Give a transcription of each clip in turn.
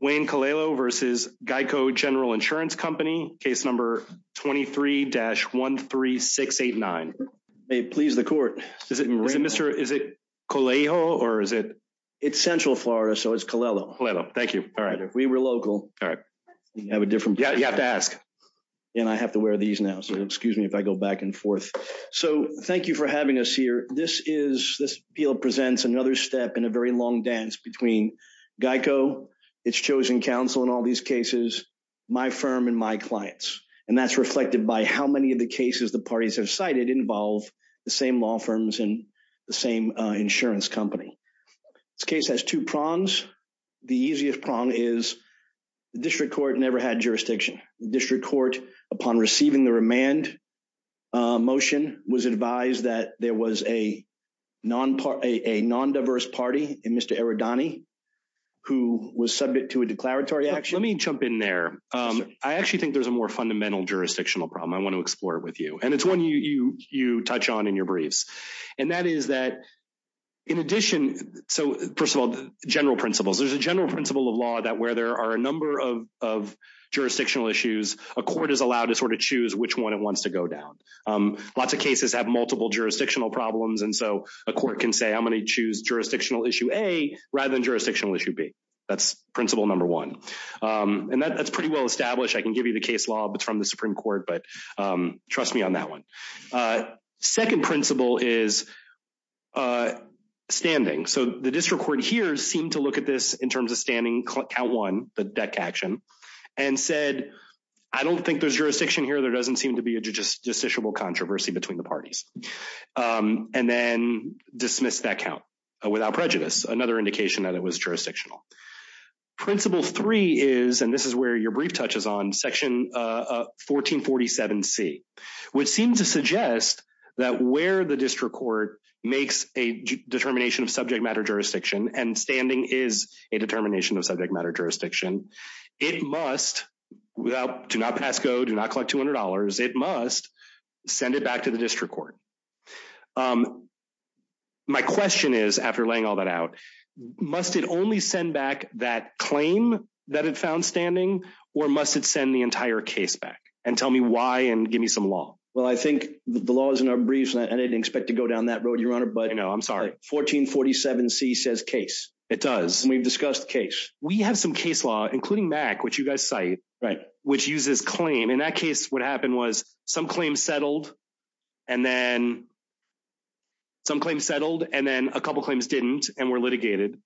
Wayne Colello v. GEICO General Insurance Company, case number 23-13689. May it please the court. Is it Mr. Colello or is it... It's Central Florida, so it's Colello. Colello, thank you. All right, if we were local... All right. You have a different... Yeah, you have to ask. And I have to wear these now, so excuse me if I go back and forth. So, thank you for having us here. This appeal presents another step in a very long dance between GEICO, its chosen counsel in all these cases, my firm, and my clients. And that's reflected by how many of the cases the parties have cited involve the same law firms and the same insurance company. This case has two prongs. The easiest prong is the district court never had jurisdiction. The district court, upon receiving the remand motion, was advised that there was a non-diverse party in Mr. Eridani who was subject to a declaratory action. Let me jump in there. I actually think there's a more fundamental jurisdictional problem. I want to explore it with you. And it's one you touch on in your briefs. And that is that, in addition... So, first of all, general principles. There's a general principle of law that where there are a number of jurisdictional issues, a court is allowed to sort of choose which one it wants to go down. Lots of cases have multiple jurisdictional problems, and so a court can say, I'm going to choose jurisdictional issue A rather than jurisdictional issue B. That's principle number one. And that's pretty well established. I can give you the case law from the Supreme Court, but trust me on that one. Second principle is standing. So the district court here seemed to look at this in terms of standing, count one, the deck action, and said, I don't think there's jurisdiction here. There doesn't seem to be a justiciable controversy between the parties. And then dismissed that count without prejudice, another indication that it was jurisdictional. Principle three is, and this is where your brief touches on, section 1447C, which seems to suggest that where the district court makes a determination of subject matter jurisdiction, and standing is a determination of subject matter jurisdiction, it must, do not pass go, do not collect $200, it must send it back to the district court. My question is, after laying all that out, must it only send back that claim that it found standing? Or must it send the entire case back? And tell me why, and give me some law. Well, I think the law is in our briefs, and I didn't expect to go down that road, Your Honor, but. No, I'm sorry. 1447C says case. It does. And we've discussed case. We have some case law, including MAC, which you guys cite. Right. Which uses claim. In that case, what happened was some claims settled, and then some claims settled, and then a couple claims didn't, and were litigated.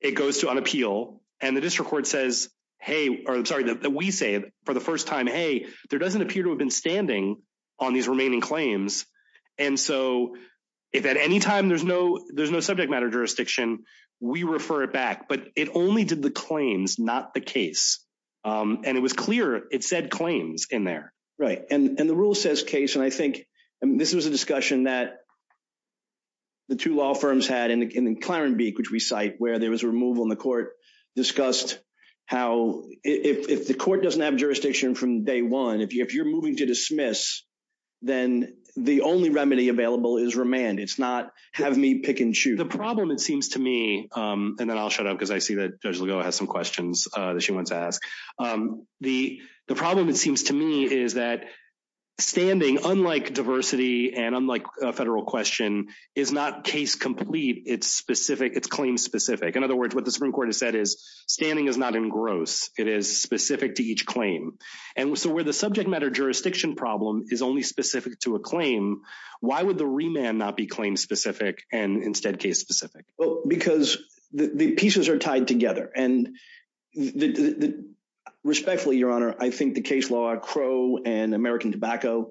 It goes to an appeal, and the district court says, hey, or sorry, that we say it for the first time, hey, there doesn't appear to have been standing on these remaining claims. And so if at any time there's no subject matter jurisdiction, we refer it back. But it only did the claims, not the case. And it was clear it said claims in there. Right. And the rule says case. And I think this was a discussion that the two law firms had in Clarenbeak, which we cite, where there was removal in the court, discussed how if the court doesn't have jurisdiction from day one, if you're moving to dismiss, then the only remedy available is remand. It's not have me pick and choose. The problem, it seems to me, and then I'll shut up because I see that Judge Legault has some questions that she wants to ask. The problem, it seems to me, is that standing, unlike diversity and unlike a federal question, is not case complete. It's specific. It's claim specific. In other words, what the Supreme Court has said is standing is not engrossed. It is specific to each claim. And so where the subject matter jurisdiction problem is only specific to a claim, why would the remand not be claim specific and instead case specific? Well, because the pieces are tied together. And respectfully, Your Honor, I think the case law, Crow and American Tobacco,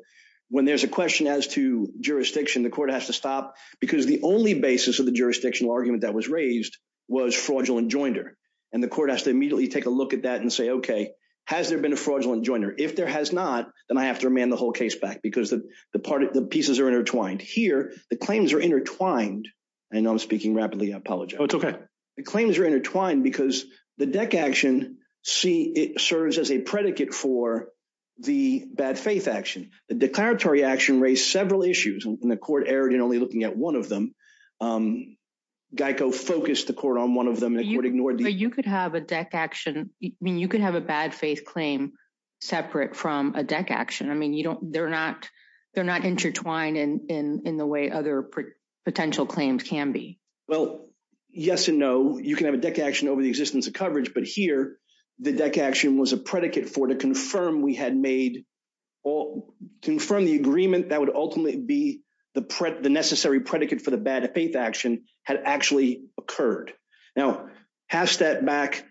when there's a question as to jurisdiction, the court has to stop because the only basis of the jurisdictional argument that was raised was fraudulent joinder. And the court has to immediately take a look at that and say, okay, has there been a fraudulent joinder? If there has not, then I have to remand the whole case back because the pieces are intertwined. Here, the claims are intertwined. I know I'm speaking rapidly. Oh, it's okay. The claims are intertwined because the deck action serves as a predicate for the bad faith action. The declaratory action raised several issues, and the court erred in only looking at one of them. Geico focused the court on one of them and ignored the other. You could have a bad faith claim separate from a deck action. I mean, they're not intertwined in the way other potential claims can be. Well, yes and no. You can have a deck action over the existence of coverage. But here, the deck action was a predicate for to confirm the agreement that would ultimately be the necessary predicate for the bad faith action had actually occurred. Now, half step back,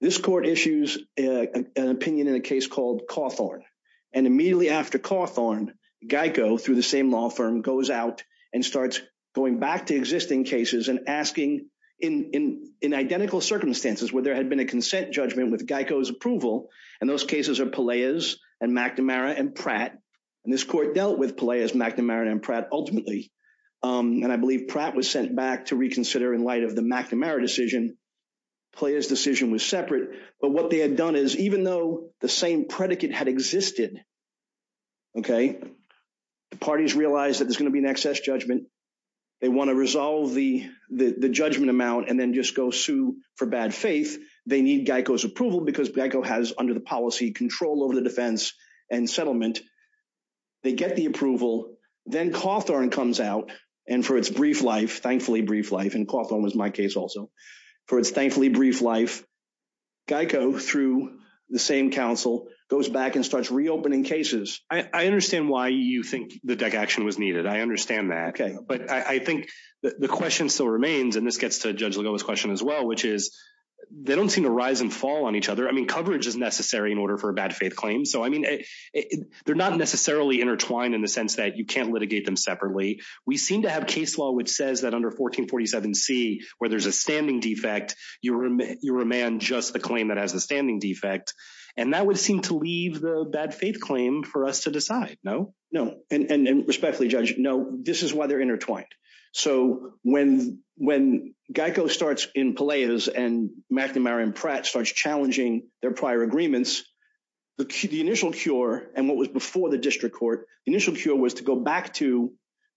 this court issues an opinion in a case called Cawthorn. And immediately after Cawthorn, Geico, through the same law firm, goes out and starts going back to existing cases and asking in identical circumstances where there had been a consent judgment with Geico's approval. And those cases are Peleas and McNamara and Pratt. And this court dealt with Peleas, McNamara, and Pratt ultimately. And I believe Pratt was sent back to reconsider in light of the McNamara decision. Peleas' decision was separate. But what they had done is, even though the same predicate had existed, okay, the parties realized that there's going to be an excess judgment. They want to resolve the judgment amount and then just go sue for bad faith. They need Geico's approval because Geico has, under the policy, control over the defense and settlement. They get the approval. Then Cawthorn comes out. And for its brief life, thankfully brief life, and Cawthorn was my case also, for its thankfully brief life, Geico, through the same counsel, goes back and starts reopening cases. I understand why you think the deck action was needed. I understand that. But I think the question still remains, and this gets to Judge Legoma's question as well, which is they don't seem to rise and fall on each other. I mean, coverage is necessary in order for a bad faith claim. So, I mean, they're not necessarily intertwined in the sense that you can't litigate them separately. We seem to have case law which says that under 1447C, where there's a standing defect, you remand just the claim that has the standing defect. And that would seem to leave the bad faith claim for us to decide. No? And respectfully, Judge, no, this is why they're intertwined. So, when Geico starts in Peleas and McNamara and Pratt starts challenging their prior agreements, the initial cure, and what was before the district court, the initial cure was to go back to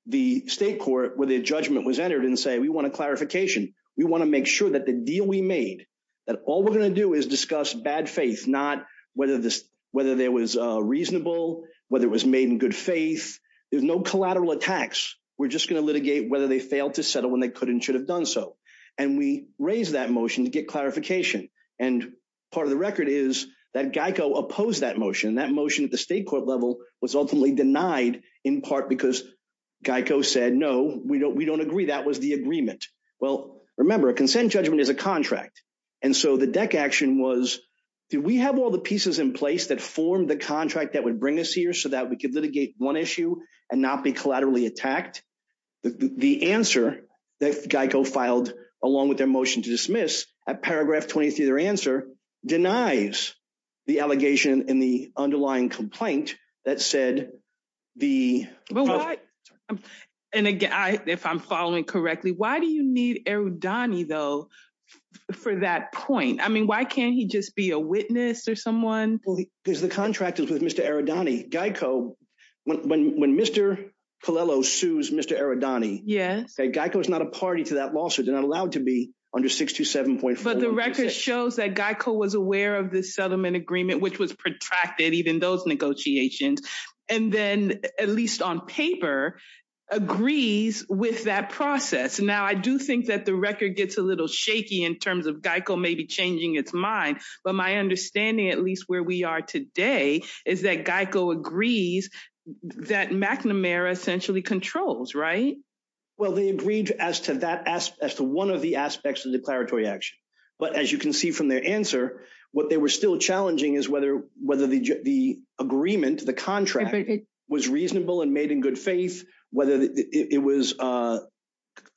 the state court where the judgment was entered and say, we want a clarification. We want to make sure that the deal we made, that all we're going to do is discuss bad faith, not whether there was reasonable, whether it was made in good faith. There's no collateral attacks. We're just going to litigate whether they failed to settle when they could and should have done so. And we raised that motion to get clarification. And part of the record is that Geico opposed that motion. That motion at the state court level was ultimately denied in part because Geico said, no, we don't agree. That was the agreement. Well, remember, a consent judgment is a contract. And so the deck action was, do we have all the pieces in place that formed the contract that would bring us here so that we could litigate one issue and not be collaterally attacked? The answer that Geico filed, along with their motion to dismiss, at paragraph 23 of their answer, denies the allegation and the underlying complaint that said the... And again, if I'm following correctly, why do you need Erudani, though, for that point? I mean, why can't he just be a witness or someone? Because the contract is with Mr. Erudani. Geico, when Mr. Paliello sues Mr. Erudani, Geico is not a party to that lawsuit. They're not allowed to be under 627.4. But the record shows that Geico was aware of the settlement agreement, which was protracted, even those negotiations. And then, at least on paper, agrees with that process. Now, I do think that the record gets a little shaky in terms of Geico maybe changing its mind. But my understanding, at least where we are today, is that Geico agrees that McNamara essentially controls, right? Well, they agreed as to one of the aspects of the declaratory action. But as you can see from their answer, what they were still challenging is whether the agreement, the contract, was reasonable and made in good faith, whether it was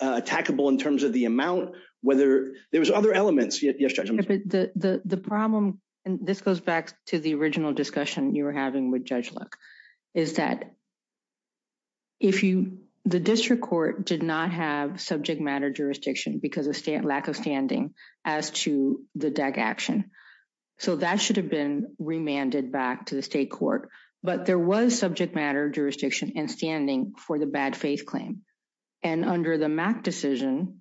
tackable in terms of the amount, whether there was other elements. Yes, Judge? The problem, and this goes back to the original discussion you were having with Judge Luck, is that the district court did not have subject matter jurisdiction because of lack of standing as to the DAC action. So that should have been remanded back to the state court. But there was subject matter jurisdiction and standing for the bad faith claim. And under the MAC decision,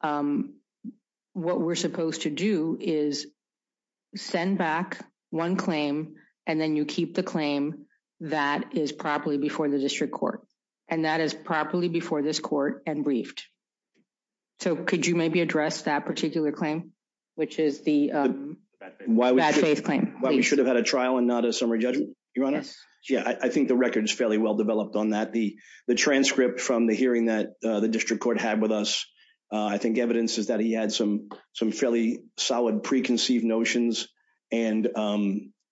what we're supposed to do is send back one claim, and then you keep the claim that is properly before the district court. And that is properly before this court and briefed. So could you maybe address that particular claim, which is the bad faith claim? Why we should have had a trial and not a summary judgment, Your Honor? Yes. Yeah, I think the record is fairly well developed on that. The transcript from the hearing that the district court had with us, I think evidence is that he had some fairly solid preconceived notions. And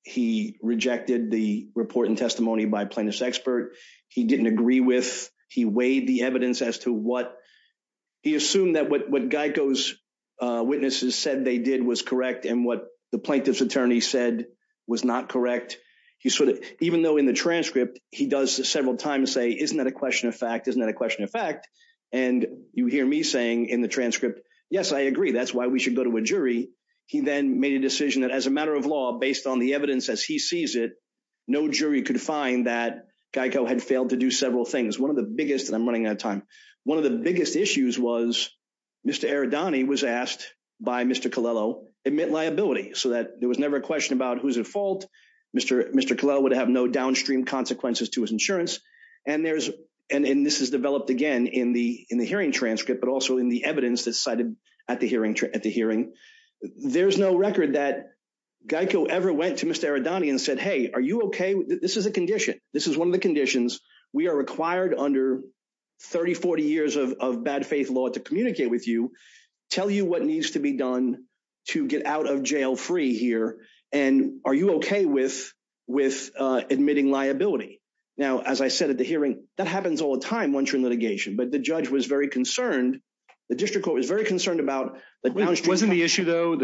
he rejected the report and testimony by plaintiff's expert. He didn't agree with, he weighed the evidence as to what, he assumed that what Geico's witnesses said they did was correct and what the plaintiff's attorney said was not correct. Even though in the transcript, he does several times say, isn't that a question of fact? Isn't that a question of fact? And you hear me saying in the transcript, yes, I agree. That's why we should go to a jury. He then made a decision that as a matter of law, based on the evidence as he sees it, no jury could find that Geico had failed to do several things. One of the biggest, and I'm running out of time. One of the biggest issues was Mr. Aradani was asked by Mr. Colello, admit liability so that there was never a question about who's at fault. Mr. Colello would have no downstream consequences to his insurance. And this is developed again in the hearing transcript, but also in the evidence that's cited at the hearing. There's no record that Geico ever went to Mr. Aradani and said, hey, are you okay? This is a condition. This is one of the conditions. We are required under 30, 40 years of bad faith law to communicate with you, tell you what needs to be done to get out of jail free here. And are you okay with admitting liability? Now, as I said at the hearing, that happens all the time once you're in litigation. But the judge was very concerned. The district court was very concerned about the downstream. It wasn't the issue, though,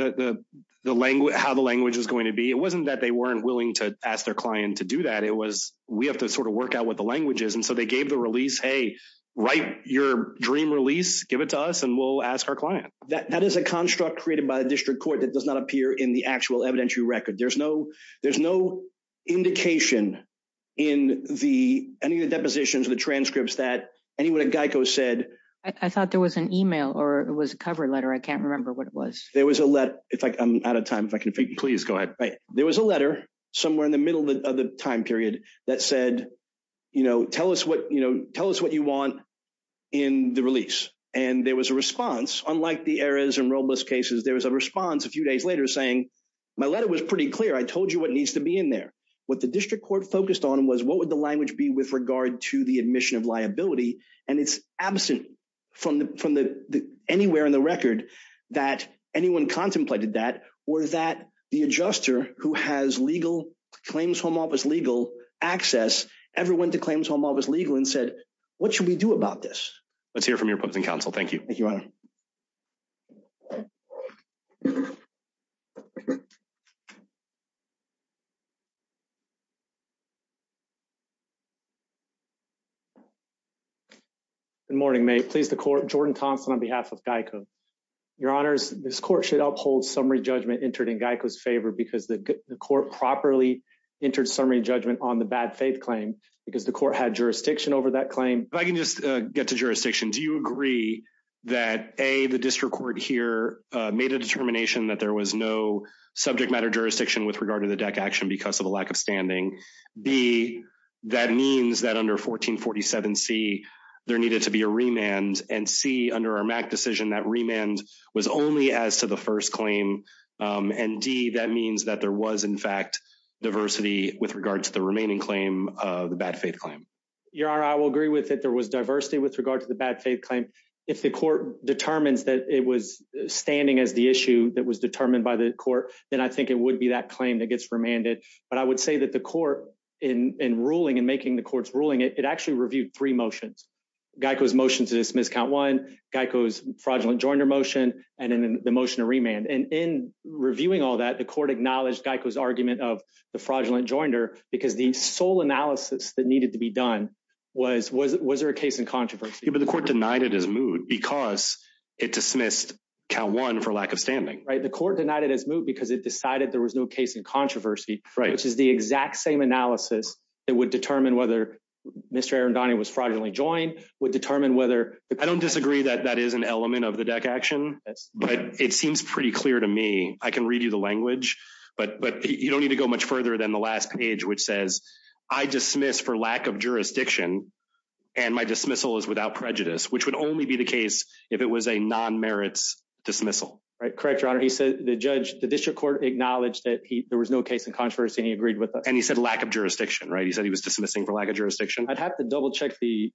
how the language was going to be. It wasn't that they weren't willing to ask their client to do that. It was we have to sort of work out what the language is. And so they gave the release, hey, write your dream release, give it to us, and we'll ask our client. That is a construct created by the district court that does not appear in the actual evidentiary record. There's no indication in any of the depositions, the transcripts that anyone at Geico said. I thought there was an email or it was a cover letter. I can't remember what it was. There was a letter. I'm out of time. Please go ahead. Right. There was a letter somewhere in the middle of the time period that said, you know, tell us what you want in the release. And there was a response. Unlike the errors and robust cases, there was a response a few days later saying my letter was pretty clear. I told you what needs to be in there. What the district court focused on was what would the language be with regard to the admission of liability. And it's absent from anywhere in the record that anyone contemplated that or that the adjuster who has legal claims home office legal access ever went to claims home office legal and said, what should we do about this? Let's hear from your public counsel. Thank you. Thank you. Good morning, may please the court. Jordan Thompson, on behalf of Geico, your honors, this court should uphold summary judgment entered in Geico's favor because the court properly entered summary judgment on the bad faith claim because the court had jurisdiction over that claim. If I can just get to jurisdiction, do you agree that a the district court here made a determination that there was no subject matter jurisdiction with regard to the deck action because of a lack of standing? B, that means that under 1447 C, there needed to be a remand and C, under our Mac decision, that remand was only as to the first claim. And D, that means that there was, in fact, diversity with regard to the remaining claim of the bad faith claim. Your honor, I will agree with it. There was diversity with regard to the bad faith claim. If the court determines that it was standing as the issue that was determined by the court, then I think it would be that claim that gets remanded. But I would say that the court in ruling and making the court's ruling, it actually reviewed three motions. Geico's motion to dismiss count one Geico's fraudulent joiner motion and the motion to remand. And in reviewing all that, the court acknowledged Geico's argument of the fraudulent joiner because the sole analysis that needed to be done was was was there a case in controversy? But the court denied it as mood because it dismissed count one for lack of standing. Right. The court denied it as mood because it decided there was no case in controversy. Right. Which is the exact same analysis that would determine whether Mr. And Donnie was fraudulently joined would determine whether I don't disagree that that is an element of the deck action. But it seems pretty clear to me. I can read you the language. But but you don't need to go much further than the last page, which says I dismiss for lack of jurisdiction. And my dismissal is without prejudice, which would only be the case if it was a non merits dismissal. Right. Correct. Your honor. He said the judge, the district court acknowledged that there was no case in controversy. And he agreed with that. And he said lack of jurisdiction. Right. He said he was dismissing for lack of jurisdiction. I'd have to double check the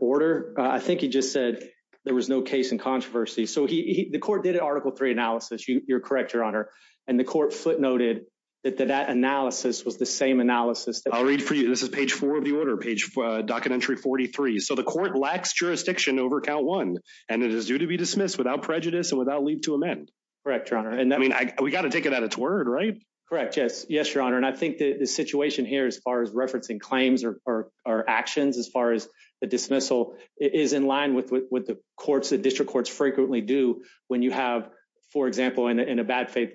order. I think he just said there was no case in controversy. So the court did an article three analysis. You're correct, your honor. And the court footnoted that that analysis was the same analysis. I'll read for you. This is page four of the order page for documentary 43. So the court lacks jurisdiction over count one. And it is due to be dismissed without prejudice and without leave to amend. Correct, your honor. And I mean, we got to take it at its word. Right. Correct. Yes. Yes, your honor. And I think the situation here, as far as referencing claims or actions, as far as the dismissal is in line with what the courts, the district courts frequently do when you have, for example, in a bad faith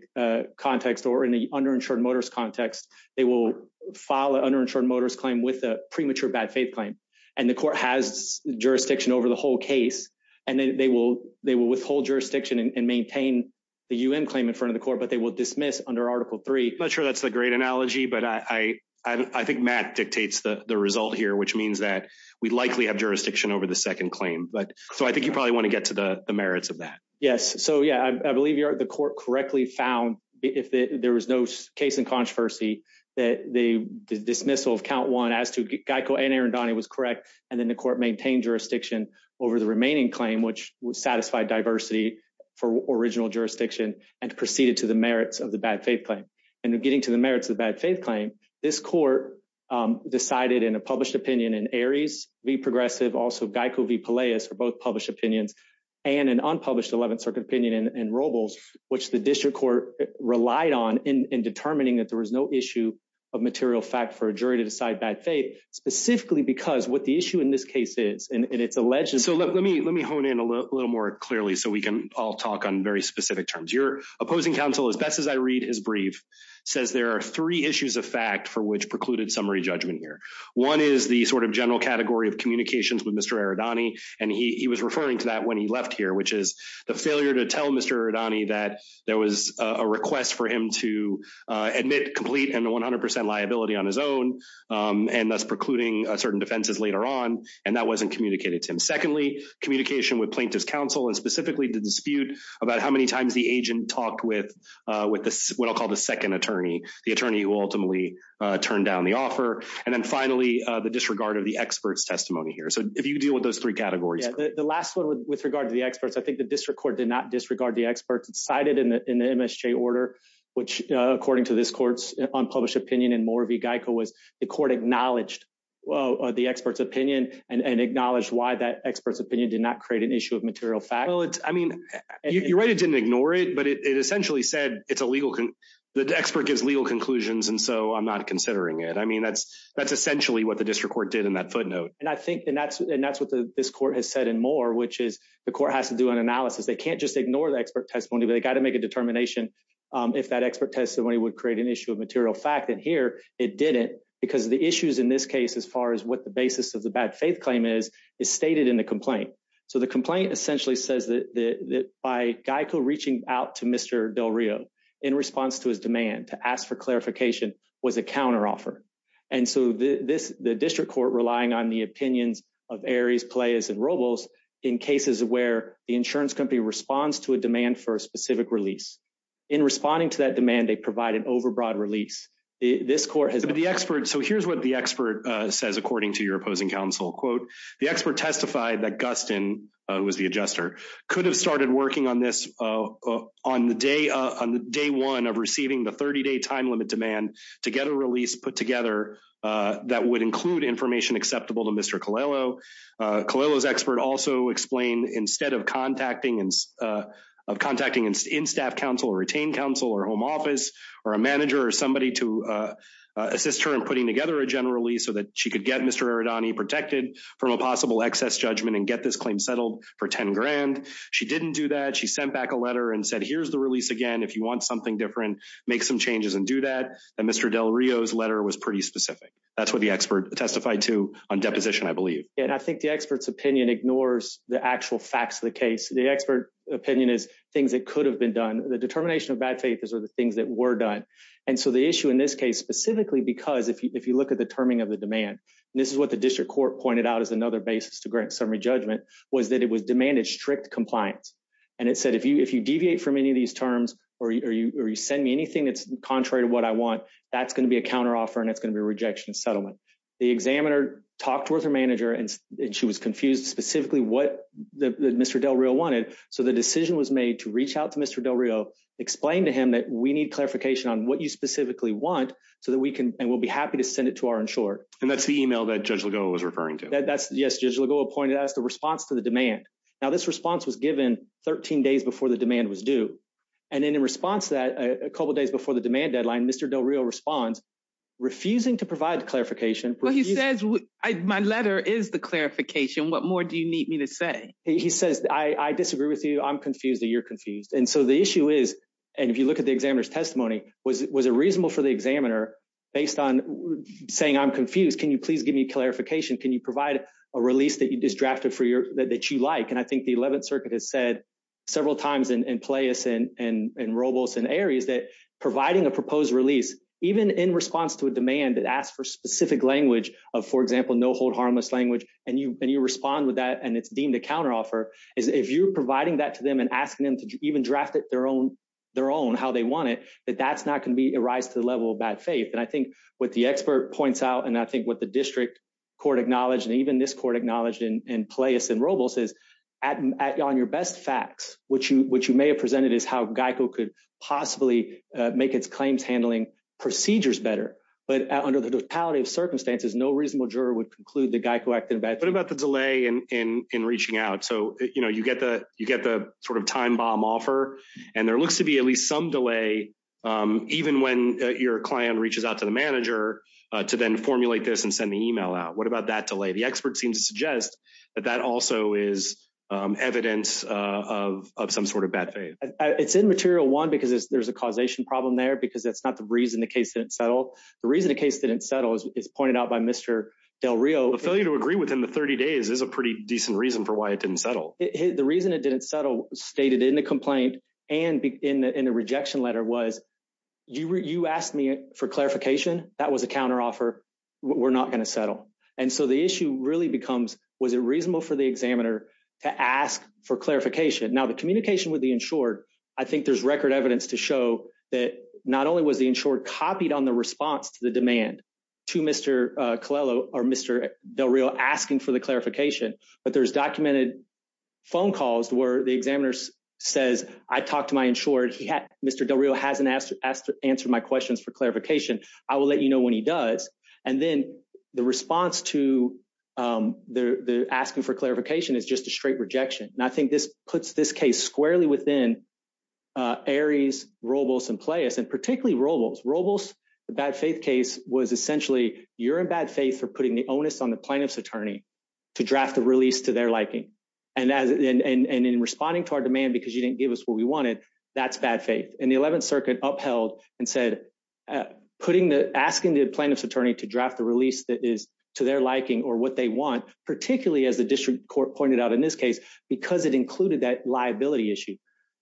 context or in the underinsured motorist context, they will file an underinsured motorist claim with a premature bad faith claim. And the court has jurisdiction over the whole case. And they will they will withhold jurisdiction and maintain the U.N. claim in front of the court. But they will dismiss under Article three. Not sure that's a great analogy, but I think Matt dictates the result here, which means that we likely have jurisdiction over the second claim. But so I think you probably want to get to the merits of that. Yes. So, yeah, I believe the court correctly found if there was no case in controversy, that the dismissal of count one as to Geico and Arandani was correct. And then the court maintained jurisdiction over the remaining claim, which would satisfy diversity for original jurisdiction and proceeded to the merits of the bad faith claim. And we're getting to the merits of the bad faith claim. This court decided in a published opinion in Aries v. Progressive, also Geico v. Peleus for both published opinions and an unpublished 11th Circuit opinion in Robles, which the district court relied on in determining that there was no issue of material fact for a jury to decide bad faith, specifically because what the issue in this case is and it's alleged. So let me let me hone in a little more clearly so we can all talk on very specific terms. Your opposing counsel, as best as I read his brief, says there are three issues of fact for which precluded summary judgment here. One is the sort of general category of communications with Mr. Arandani. And he was referring to that when he left here, which is the failure to tell Mr. Arandani that there was a request for him to admit complete and 100 percent liability on his own. And that's precluding certain defenses later on. And that wasn't communicated to him. Secondly, communication with plaintiff's counsel and specifically the dispute about how many times the agent talked with with what I'll call the second attorney, the attorney who ultimately turned down the offer. And then finally, the disregard of the expert's testimony here. So if you deal with those three categories, the last one with regard to the experts, I think the district court did not disregard the experts cited in the MSJ order, which, according to this court's unpublished opinion and more of a Geico, was the court acknowledged the expert's opinion and acknowledged why that expert's opinion did not create an issue of material fact. Well, I mean, you're right. It didn't ignore it, but it essentially said it's illegal. The expert gives legal conclusions. And so I'm not considering it. I mean, that's that's essentially what the district court did in that footnote. And I think and that's and that's what this court has said and more, which is the court has to do an analysis. They can't just ignore the expert testimony. They got to make a determination if that expert testimony would create an issue of material fact. And here it did it because of the issues in this case, as far as what the basis of the bad faith claim is, is stated in the complaint. So the complaint essentially says that by Geico reaching out to Mr. Del Rio in response to his demand to ask for clarification was a counteroffer. And so this the district court relying on the opinions of areas players and Robles in cases where the insurance company responds to a demand for a specific release in responding to that demand. They provide an overbroad release. This court has been the expert. So here's what the expert says, according to your opposing counsel, quote, the expert testified that Gustin was the adjuster could have started working on this. On the day on the day one of receiving the 30 day time limit demand to get a release put together, that would include information acceptable to Mr. Colello Colello's expert also explain instead of contacting and contacting and in staff counsel retain counsel or home office or a manager or somebody to assist her in putting together a general release so that she could get Mr. from a possible excess judgment and get this claim settled for 10 grand. She didn't do that. She sent back a letter and said, here's the release again. If you want something different, make some changes and do that. And Mr. Del Rio's letter was pretty specific. That's what the expert testified to on deposition, I believe. And I think the expert's opinion ignores the actual facts of the case. The expert opinion is things that could have been done. The determination of bad faith is are the things that were done. And so the issue in this case, specifically because if you look at the terming of the demand, this is what the district court pointed out as another basis to grant summary judgment was that it was demanded strict compliance. And it said, if you if you deviate from any of these terms, or you send me anything that's contrary to what I want, that's going to be a counteroffer and it's going to be a rejection of settlement. The examiner talked with her manager and she was confused specifically what Mr. Del Rio wanted. So the decision was made to reach out to Mr. Del Rio, explain to him that we need clarification on what you specifically want so that we can and we'll be happy to send it to our insurer. And that's the email that Judge Legault was referring to. Yes, Judge Legault pointed out the response to the demand. Now, this response was given 13 days before the demand was due. And then in response to that, a couple of days before the demand deadline, Mr. Del Rio responds, refusing to provide clarification. Well, he says my letter is the clarification. What more do you need me to say? He says, I disagree with you. I'm confused that you're confused. And so the issue is, and if you look at the examiner's testimony, was it was a reasonable for the examiner based on saying, I'm confused. Can you please give me clarification? Can you provide a release that you just drafted for your that you like? And I think the 11th Circuit has said several times in place and in Robles and areas that providing a proposed release, even in response to a demand that asks for specific language of, for example, no hold harmless language. And you and you respond with that. And it's deemed a counteroffer is if you're providing that to them and asking them to even draft it their own their own how they want it, that that's not going to be a rise to the level of bad faith. And I think what the expert points out, and I think what the district court acknowledged, and even this court acknowledged in place in Robles is on your best facts, which you which you may have presented is how Geico could possibly make its claims handling procedures better. But under the totality of circumstances, no reasonable juror would conclude the Geico act. What about the delay in in in reaching out so you know you get the you get the sort of time bomb offer, and there looks to be at least some delay. Even when your client reaches out to the manager to then formulate this and send the email out what about that delay the expert seems to suggest that that also is evidence of some sort of bad faith, it's in material one because there's a causation problem there because that's not the reason the case didn't settle. The reason the case didn't settle is pointed out by Mr. Del Rio failure to agree within the 30 days is a pretty decent reason for why it didn't settle. The reason it didn't settle stated in the complaint, and in the in the rejection letter was you were you asked me for clarification, that was a counter offer. We're not going to settle. And so the issue really becomes, was it reasonable for the examiner to ask for clarification now the communication with the insured. I think there's record evidence to show that not only was the insured copied on the response to the demand to Mr. Clello or Mr. Del Rio asking for the clarification, but there's documented phone calls where the examiner says, I talked to my insured he had Mr. Del Rio hasn't asked to answer my questions for clarification. I will let you know when he does. And then the response to the asking for clarification is just a straight rejection. And I think this puts this case squarely within Aries, Robles and Pleyas and particularly Robles. Robles, the bad faith case was essentially you're in bad faith for putting the onus on the plaintiff's attorney to draft the release to their liking. And as and in responding to our demand because you didn't give us what we wanted. That's bad faith. And the 11th Circuit upheld and said, putting the asking the plaintiff's attorney to draft the release that is to their liking or what they want, particularly as the district court pointed out in this case because it included that liability issue,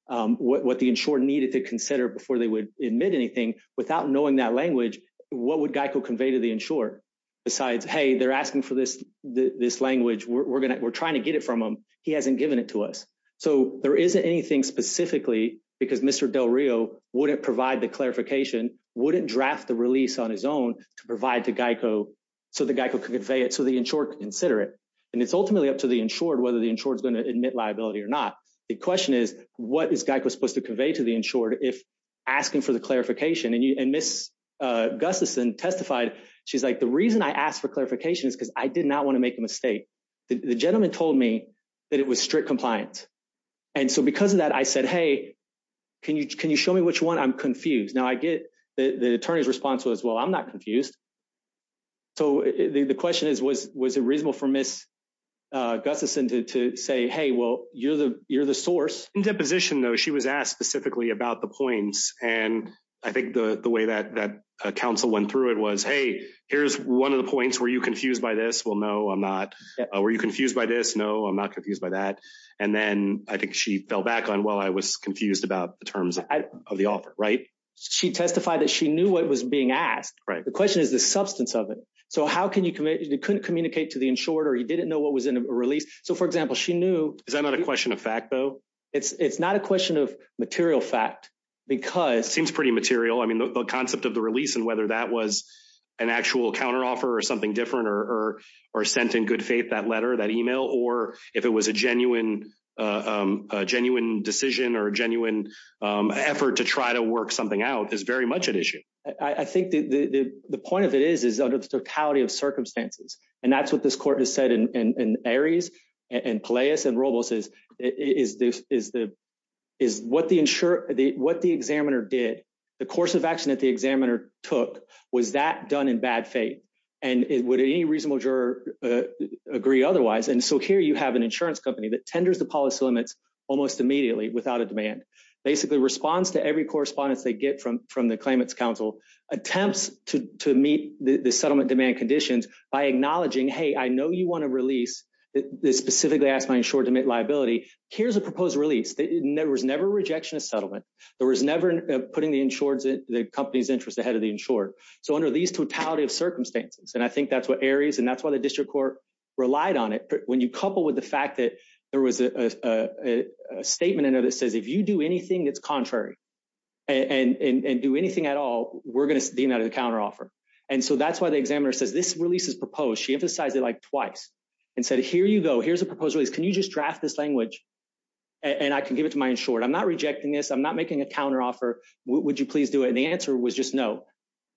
what the insurer needed to consider before they would admit anything without knowing that language. What would Geico convey to the insurer besides, hey, they're asking for this, this language we're going to we're trying to get it from him. He hasn't given it to us. So there isn't anything specifically because Mr. Del Rio wouldn't provide the clarification, wouldn't draft the release on his own to provide to Geico so the Geico could convey it. So the insurer could consider it. And it's ultimately up to the insured whether the insured is going to admit liability or not. The question is, what is Geico supposed to convey to the insured if asking for the clarification? And Ms. Gustafson testified. She's like, the reason I asked for clarification is because I did not want to make a mistake. The gentleman told me that it was strict compliance. And so because of that, I said, hey, can you can you show me which one? I'm confused. Now I get the attorney's response was, well, I'm not confused. So the question is, was was it reasonable for Ms. Gustafson to say, hey, well, you're the you're the source. In that position, though, she was asked specifically about the points. And I think the way that that counsel went through it was, hey, here's one of the points. Were you confused by this? Well, no, I'm not. Were you confused by this? No, I'm not confused by that. And then I think she fell back on, well, I was confused about the terms of the offer. Right. She testified that she knew what was being asked. Right. The question is the substance of it. So how can you commit? You couldn't communicate to the insured or he didn't know what was in a release. So, for example, she knew. Is that not a question of fact, though? It's not a question of material fact because it seems pretty material. I mean, the concept of the release and whether that was an actual counteroffer or something different or or sent in good faith, that letter, that email, or if it was a genuine, genuine decision or a genuine effort to try to work something out is very much at issue. I think the point of it is, is under the totality of circumstances. And that's what this court has said in Aries and Palaeus and Robles is is this is the is what the insurer, what the examiner did. The course of action that the examiner took was that done in bad faith. And would any reasonable juror agree otherwise? And so here you have an insurance company that tenders the policy limits almost immediately without a demand. Basically responds to every correspondence they get from from the claimants council, attempts to meet the settlement demand conditions by acknowledging, hey, I know you want to release this specifically asked my insured to make liability. Here's a proposed release. There was never rejection of settlement. There was never putting the insured the company's interest ahead of the insured. So under these totality of circumstances, and I think that's what Aries and that's why the district court relied on it. But when you couple with the fact that there was a statement in there that says, if you do anything that's contrary and do anything at all, we're going to be another counteroffer. And so that's why the examiner says this release is proposed. She emphasized it like twice and said, here you go. Here's a proposal. Can you just draft this language and I can give it to my insured? I'm not rejecting this. I'm not making a counteroffer. Would you please do it? And the answer was just, no,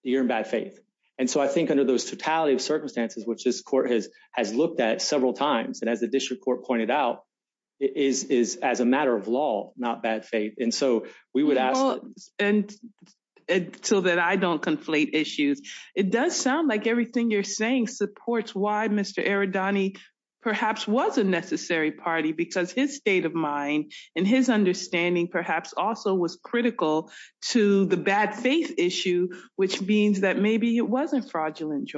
you're in bad faith. And so I think under those totality of circumstances, which this court has has looked at several times and as the district court pointed out, it is as a matter of law, not bad faith. And so we would ask and so that I don't conflate issues. It does sound like everything you're saying supports why Mr. Aridani perhaps was a necessary party, because his state of mind and his understanding perhaps also was critical to the bad faith issue, which means that maybe it wasn't fraudulent.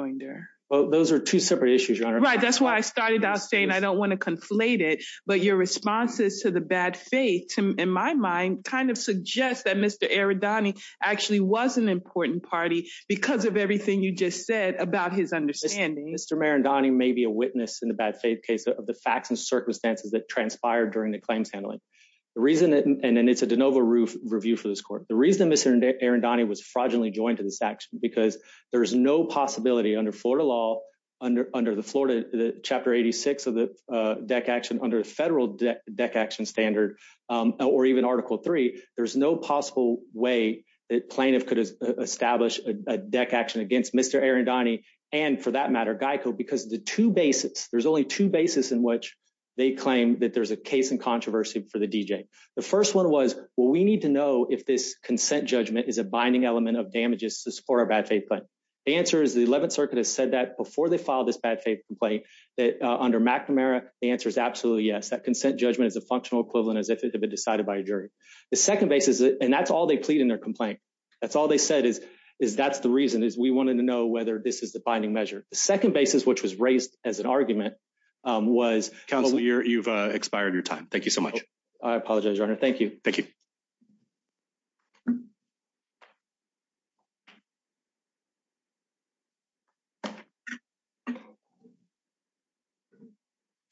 Those are two separate issues. Right. That's why I started out saying I don't want to conflate it. But your responses to the bad faith, in my mind, kind of suggests that Mr. Aridani actually was an important party because of everything you just said about his understanding. Mr. Marindani may be a witness in the bad faith case of the facts and circumstances that transpired during the claims handling. And it's a de novo review for this court. The reason Mr. Aridani was fraudulently joined to this action, because there is no possibility under Florida law, under the Florida chapter 86 of the deck action under the federal deck action standard, or even Article three, there's no possible way that plaintiff could establish a deck action against Mr. Marindani and for that matter, Geico, because the two bases, there's only two bases in which they claim that there's a case in controversy for the DJ. The first one was, well, we need to know if this consent judgment is a binding element of damages to support our bad faith. But the answer is the 11th Circuit has said that before they filed this bad faith complaint that under McNamara, the answer is absolutely yes, that consent judgment is a functional equivalent as if it had been decided by a jury. The second basis, and that's all they plead in their complaint. That's all they said is, is that's the reason is we wanted to know whether this is the binding measure. The second basis which was raised as an argument was... Counselor, you've expired your time. Thank you so much. I apologize, Your Honor. Thank you. Thank you. Thank you. It's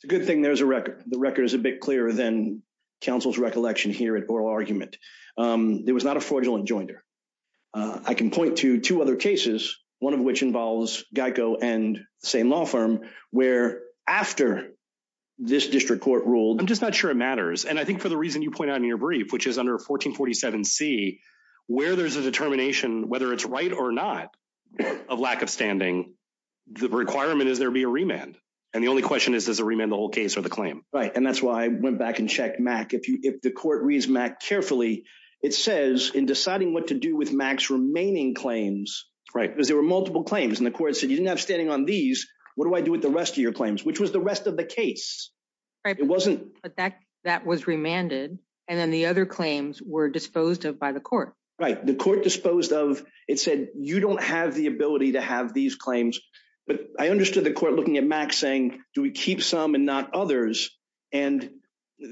a good thing there's a record, the record is a bit clearer than counsel's recollection here at oral argument. There was not a fraudulent jointer. I can point to two other cases, one of which involves Geico and the same law firm, where after this district court ruled... I'm just not sure it matters. And I think for the reason you point out in your brief, which is under 1447 C, where there's a determination, whether it's right or not, of lack of standing, the requirement is there be a remand. And the only question is, does a remand the whole case or the claim? Right. And that's why I went back and checked, Mac, if the court reads Mac carefully, it says in deciding what to do with Mac's remaining claims... Because there were multiple claims and the court said, you didn't have standing on these. What do I do with the rest of your claims? Which was the rest of the case. Right. It wasn't... But that was remanded. And then the other claims were disposed of by the court. Right. The court disposed of... It said, you don't have the ability to have these claims. But I understood the court looking at Mac saying, do we keep some and not others? And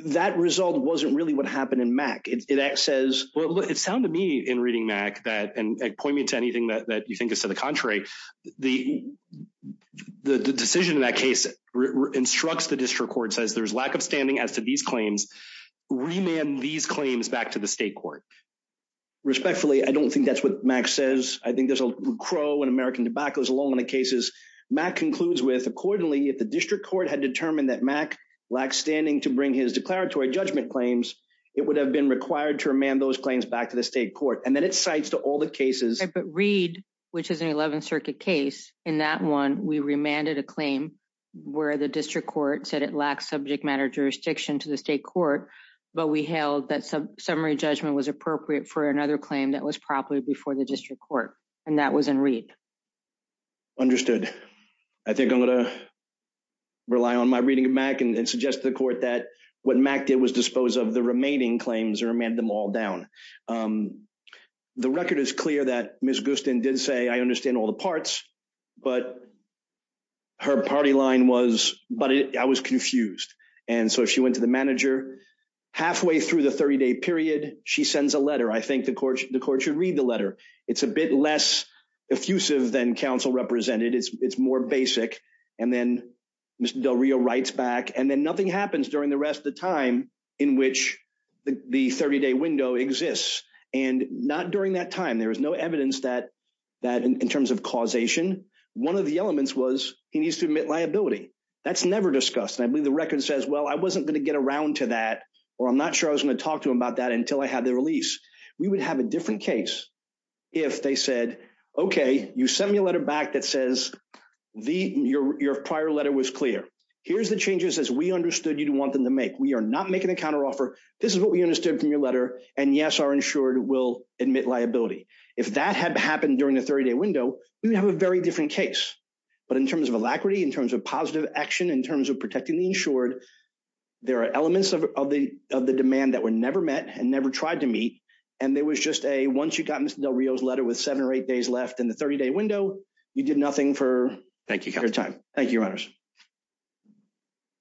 that result wasn't really what happened in Mac. It says... Well, it sounded to me in reading Mac that... And point me to anything that you think is to the contrary. The decision in that case instructs the district court, says there's lack of standing as to these claims. Remand these claims back to the state court. Respectfully, I don't think that's what Mac says. I think there's a crow and American tobacco is along in the cases. Mac concludes with, accordingly, if the district court had determined that Mac lacks standing to bring his declaratory judgment claims, it would have been required to remand those claims back to the state court. And then it cites to all the cases... I think I'm going to rely on my reading of Mac and suggest to the court that what Mac did was dispose of the remaining claims or man them all down. The record is clear that Ms. Gustin did say, I understand all the parts, but her party line was... But I was confused. And so she went to the manager halfway through the 30-day period. She sends a letter. I think the court should read the letter. It's a bit less effusive than counsel represented. It's more basic. And then Mr. Del Rio writes back and then nothing happens during the rest of the time in which the 30-day window exists. And not during that time, there was no evidence that in terms of causation, one of the elements was he needs to admit liability. That's never discussed. And I believe the record says, well, I wasn't going to get around to that, or I'm not sure I was going to talk to him about that until I had the release. We would have a different case if they said, okay, you send me a letter back that says your prior letter was clear. Here's the changes as we understood you'd want them to make. We are not making a counteroffer. This is what we understood from your letter. And yes, our insured will admit liability. If that had happened during the 30-day window, we would have a very different case. But in terms of alacrity, in terms of positive action, in terms of protecting the insured, there are elements of the demand that were never met and never tried to meet. And there was just a, once you got Mr. Del Rio's letter with seven or eight days left in the 30-day window, you did nothing for your time. Thank you, Your Honors.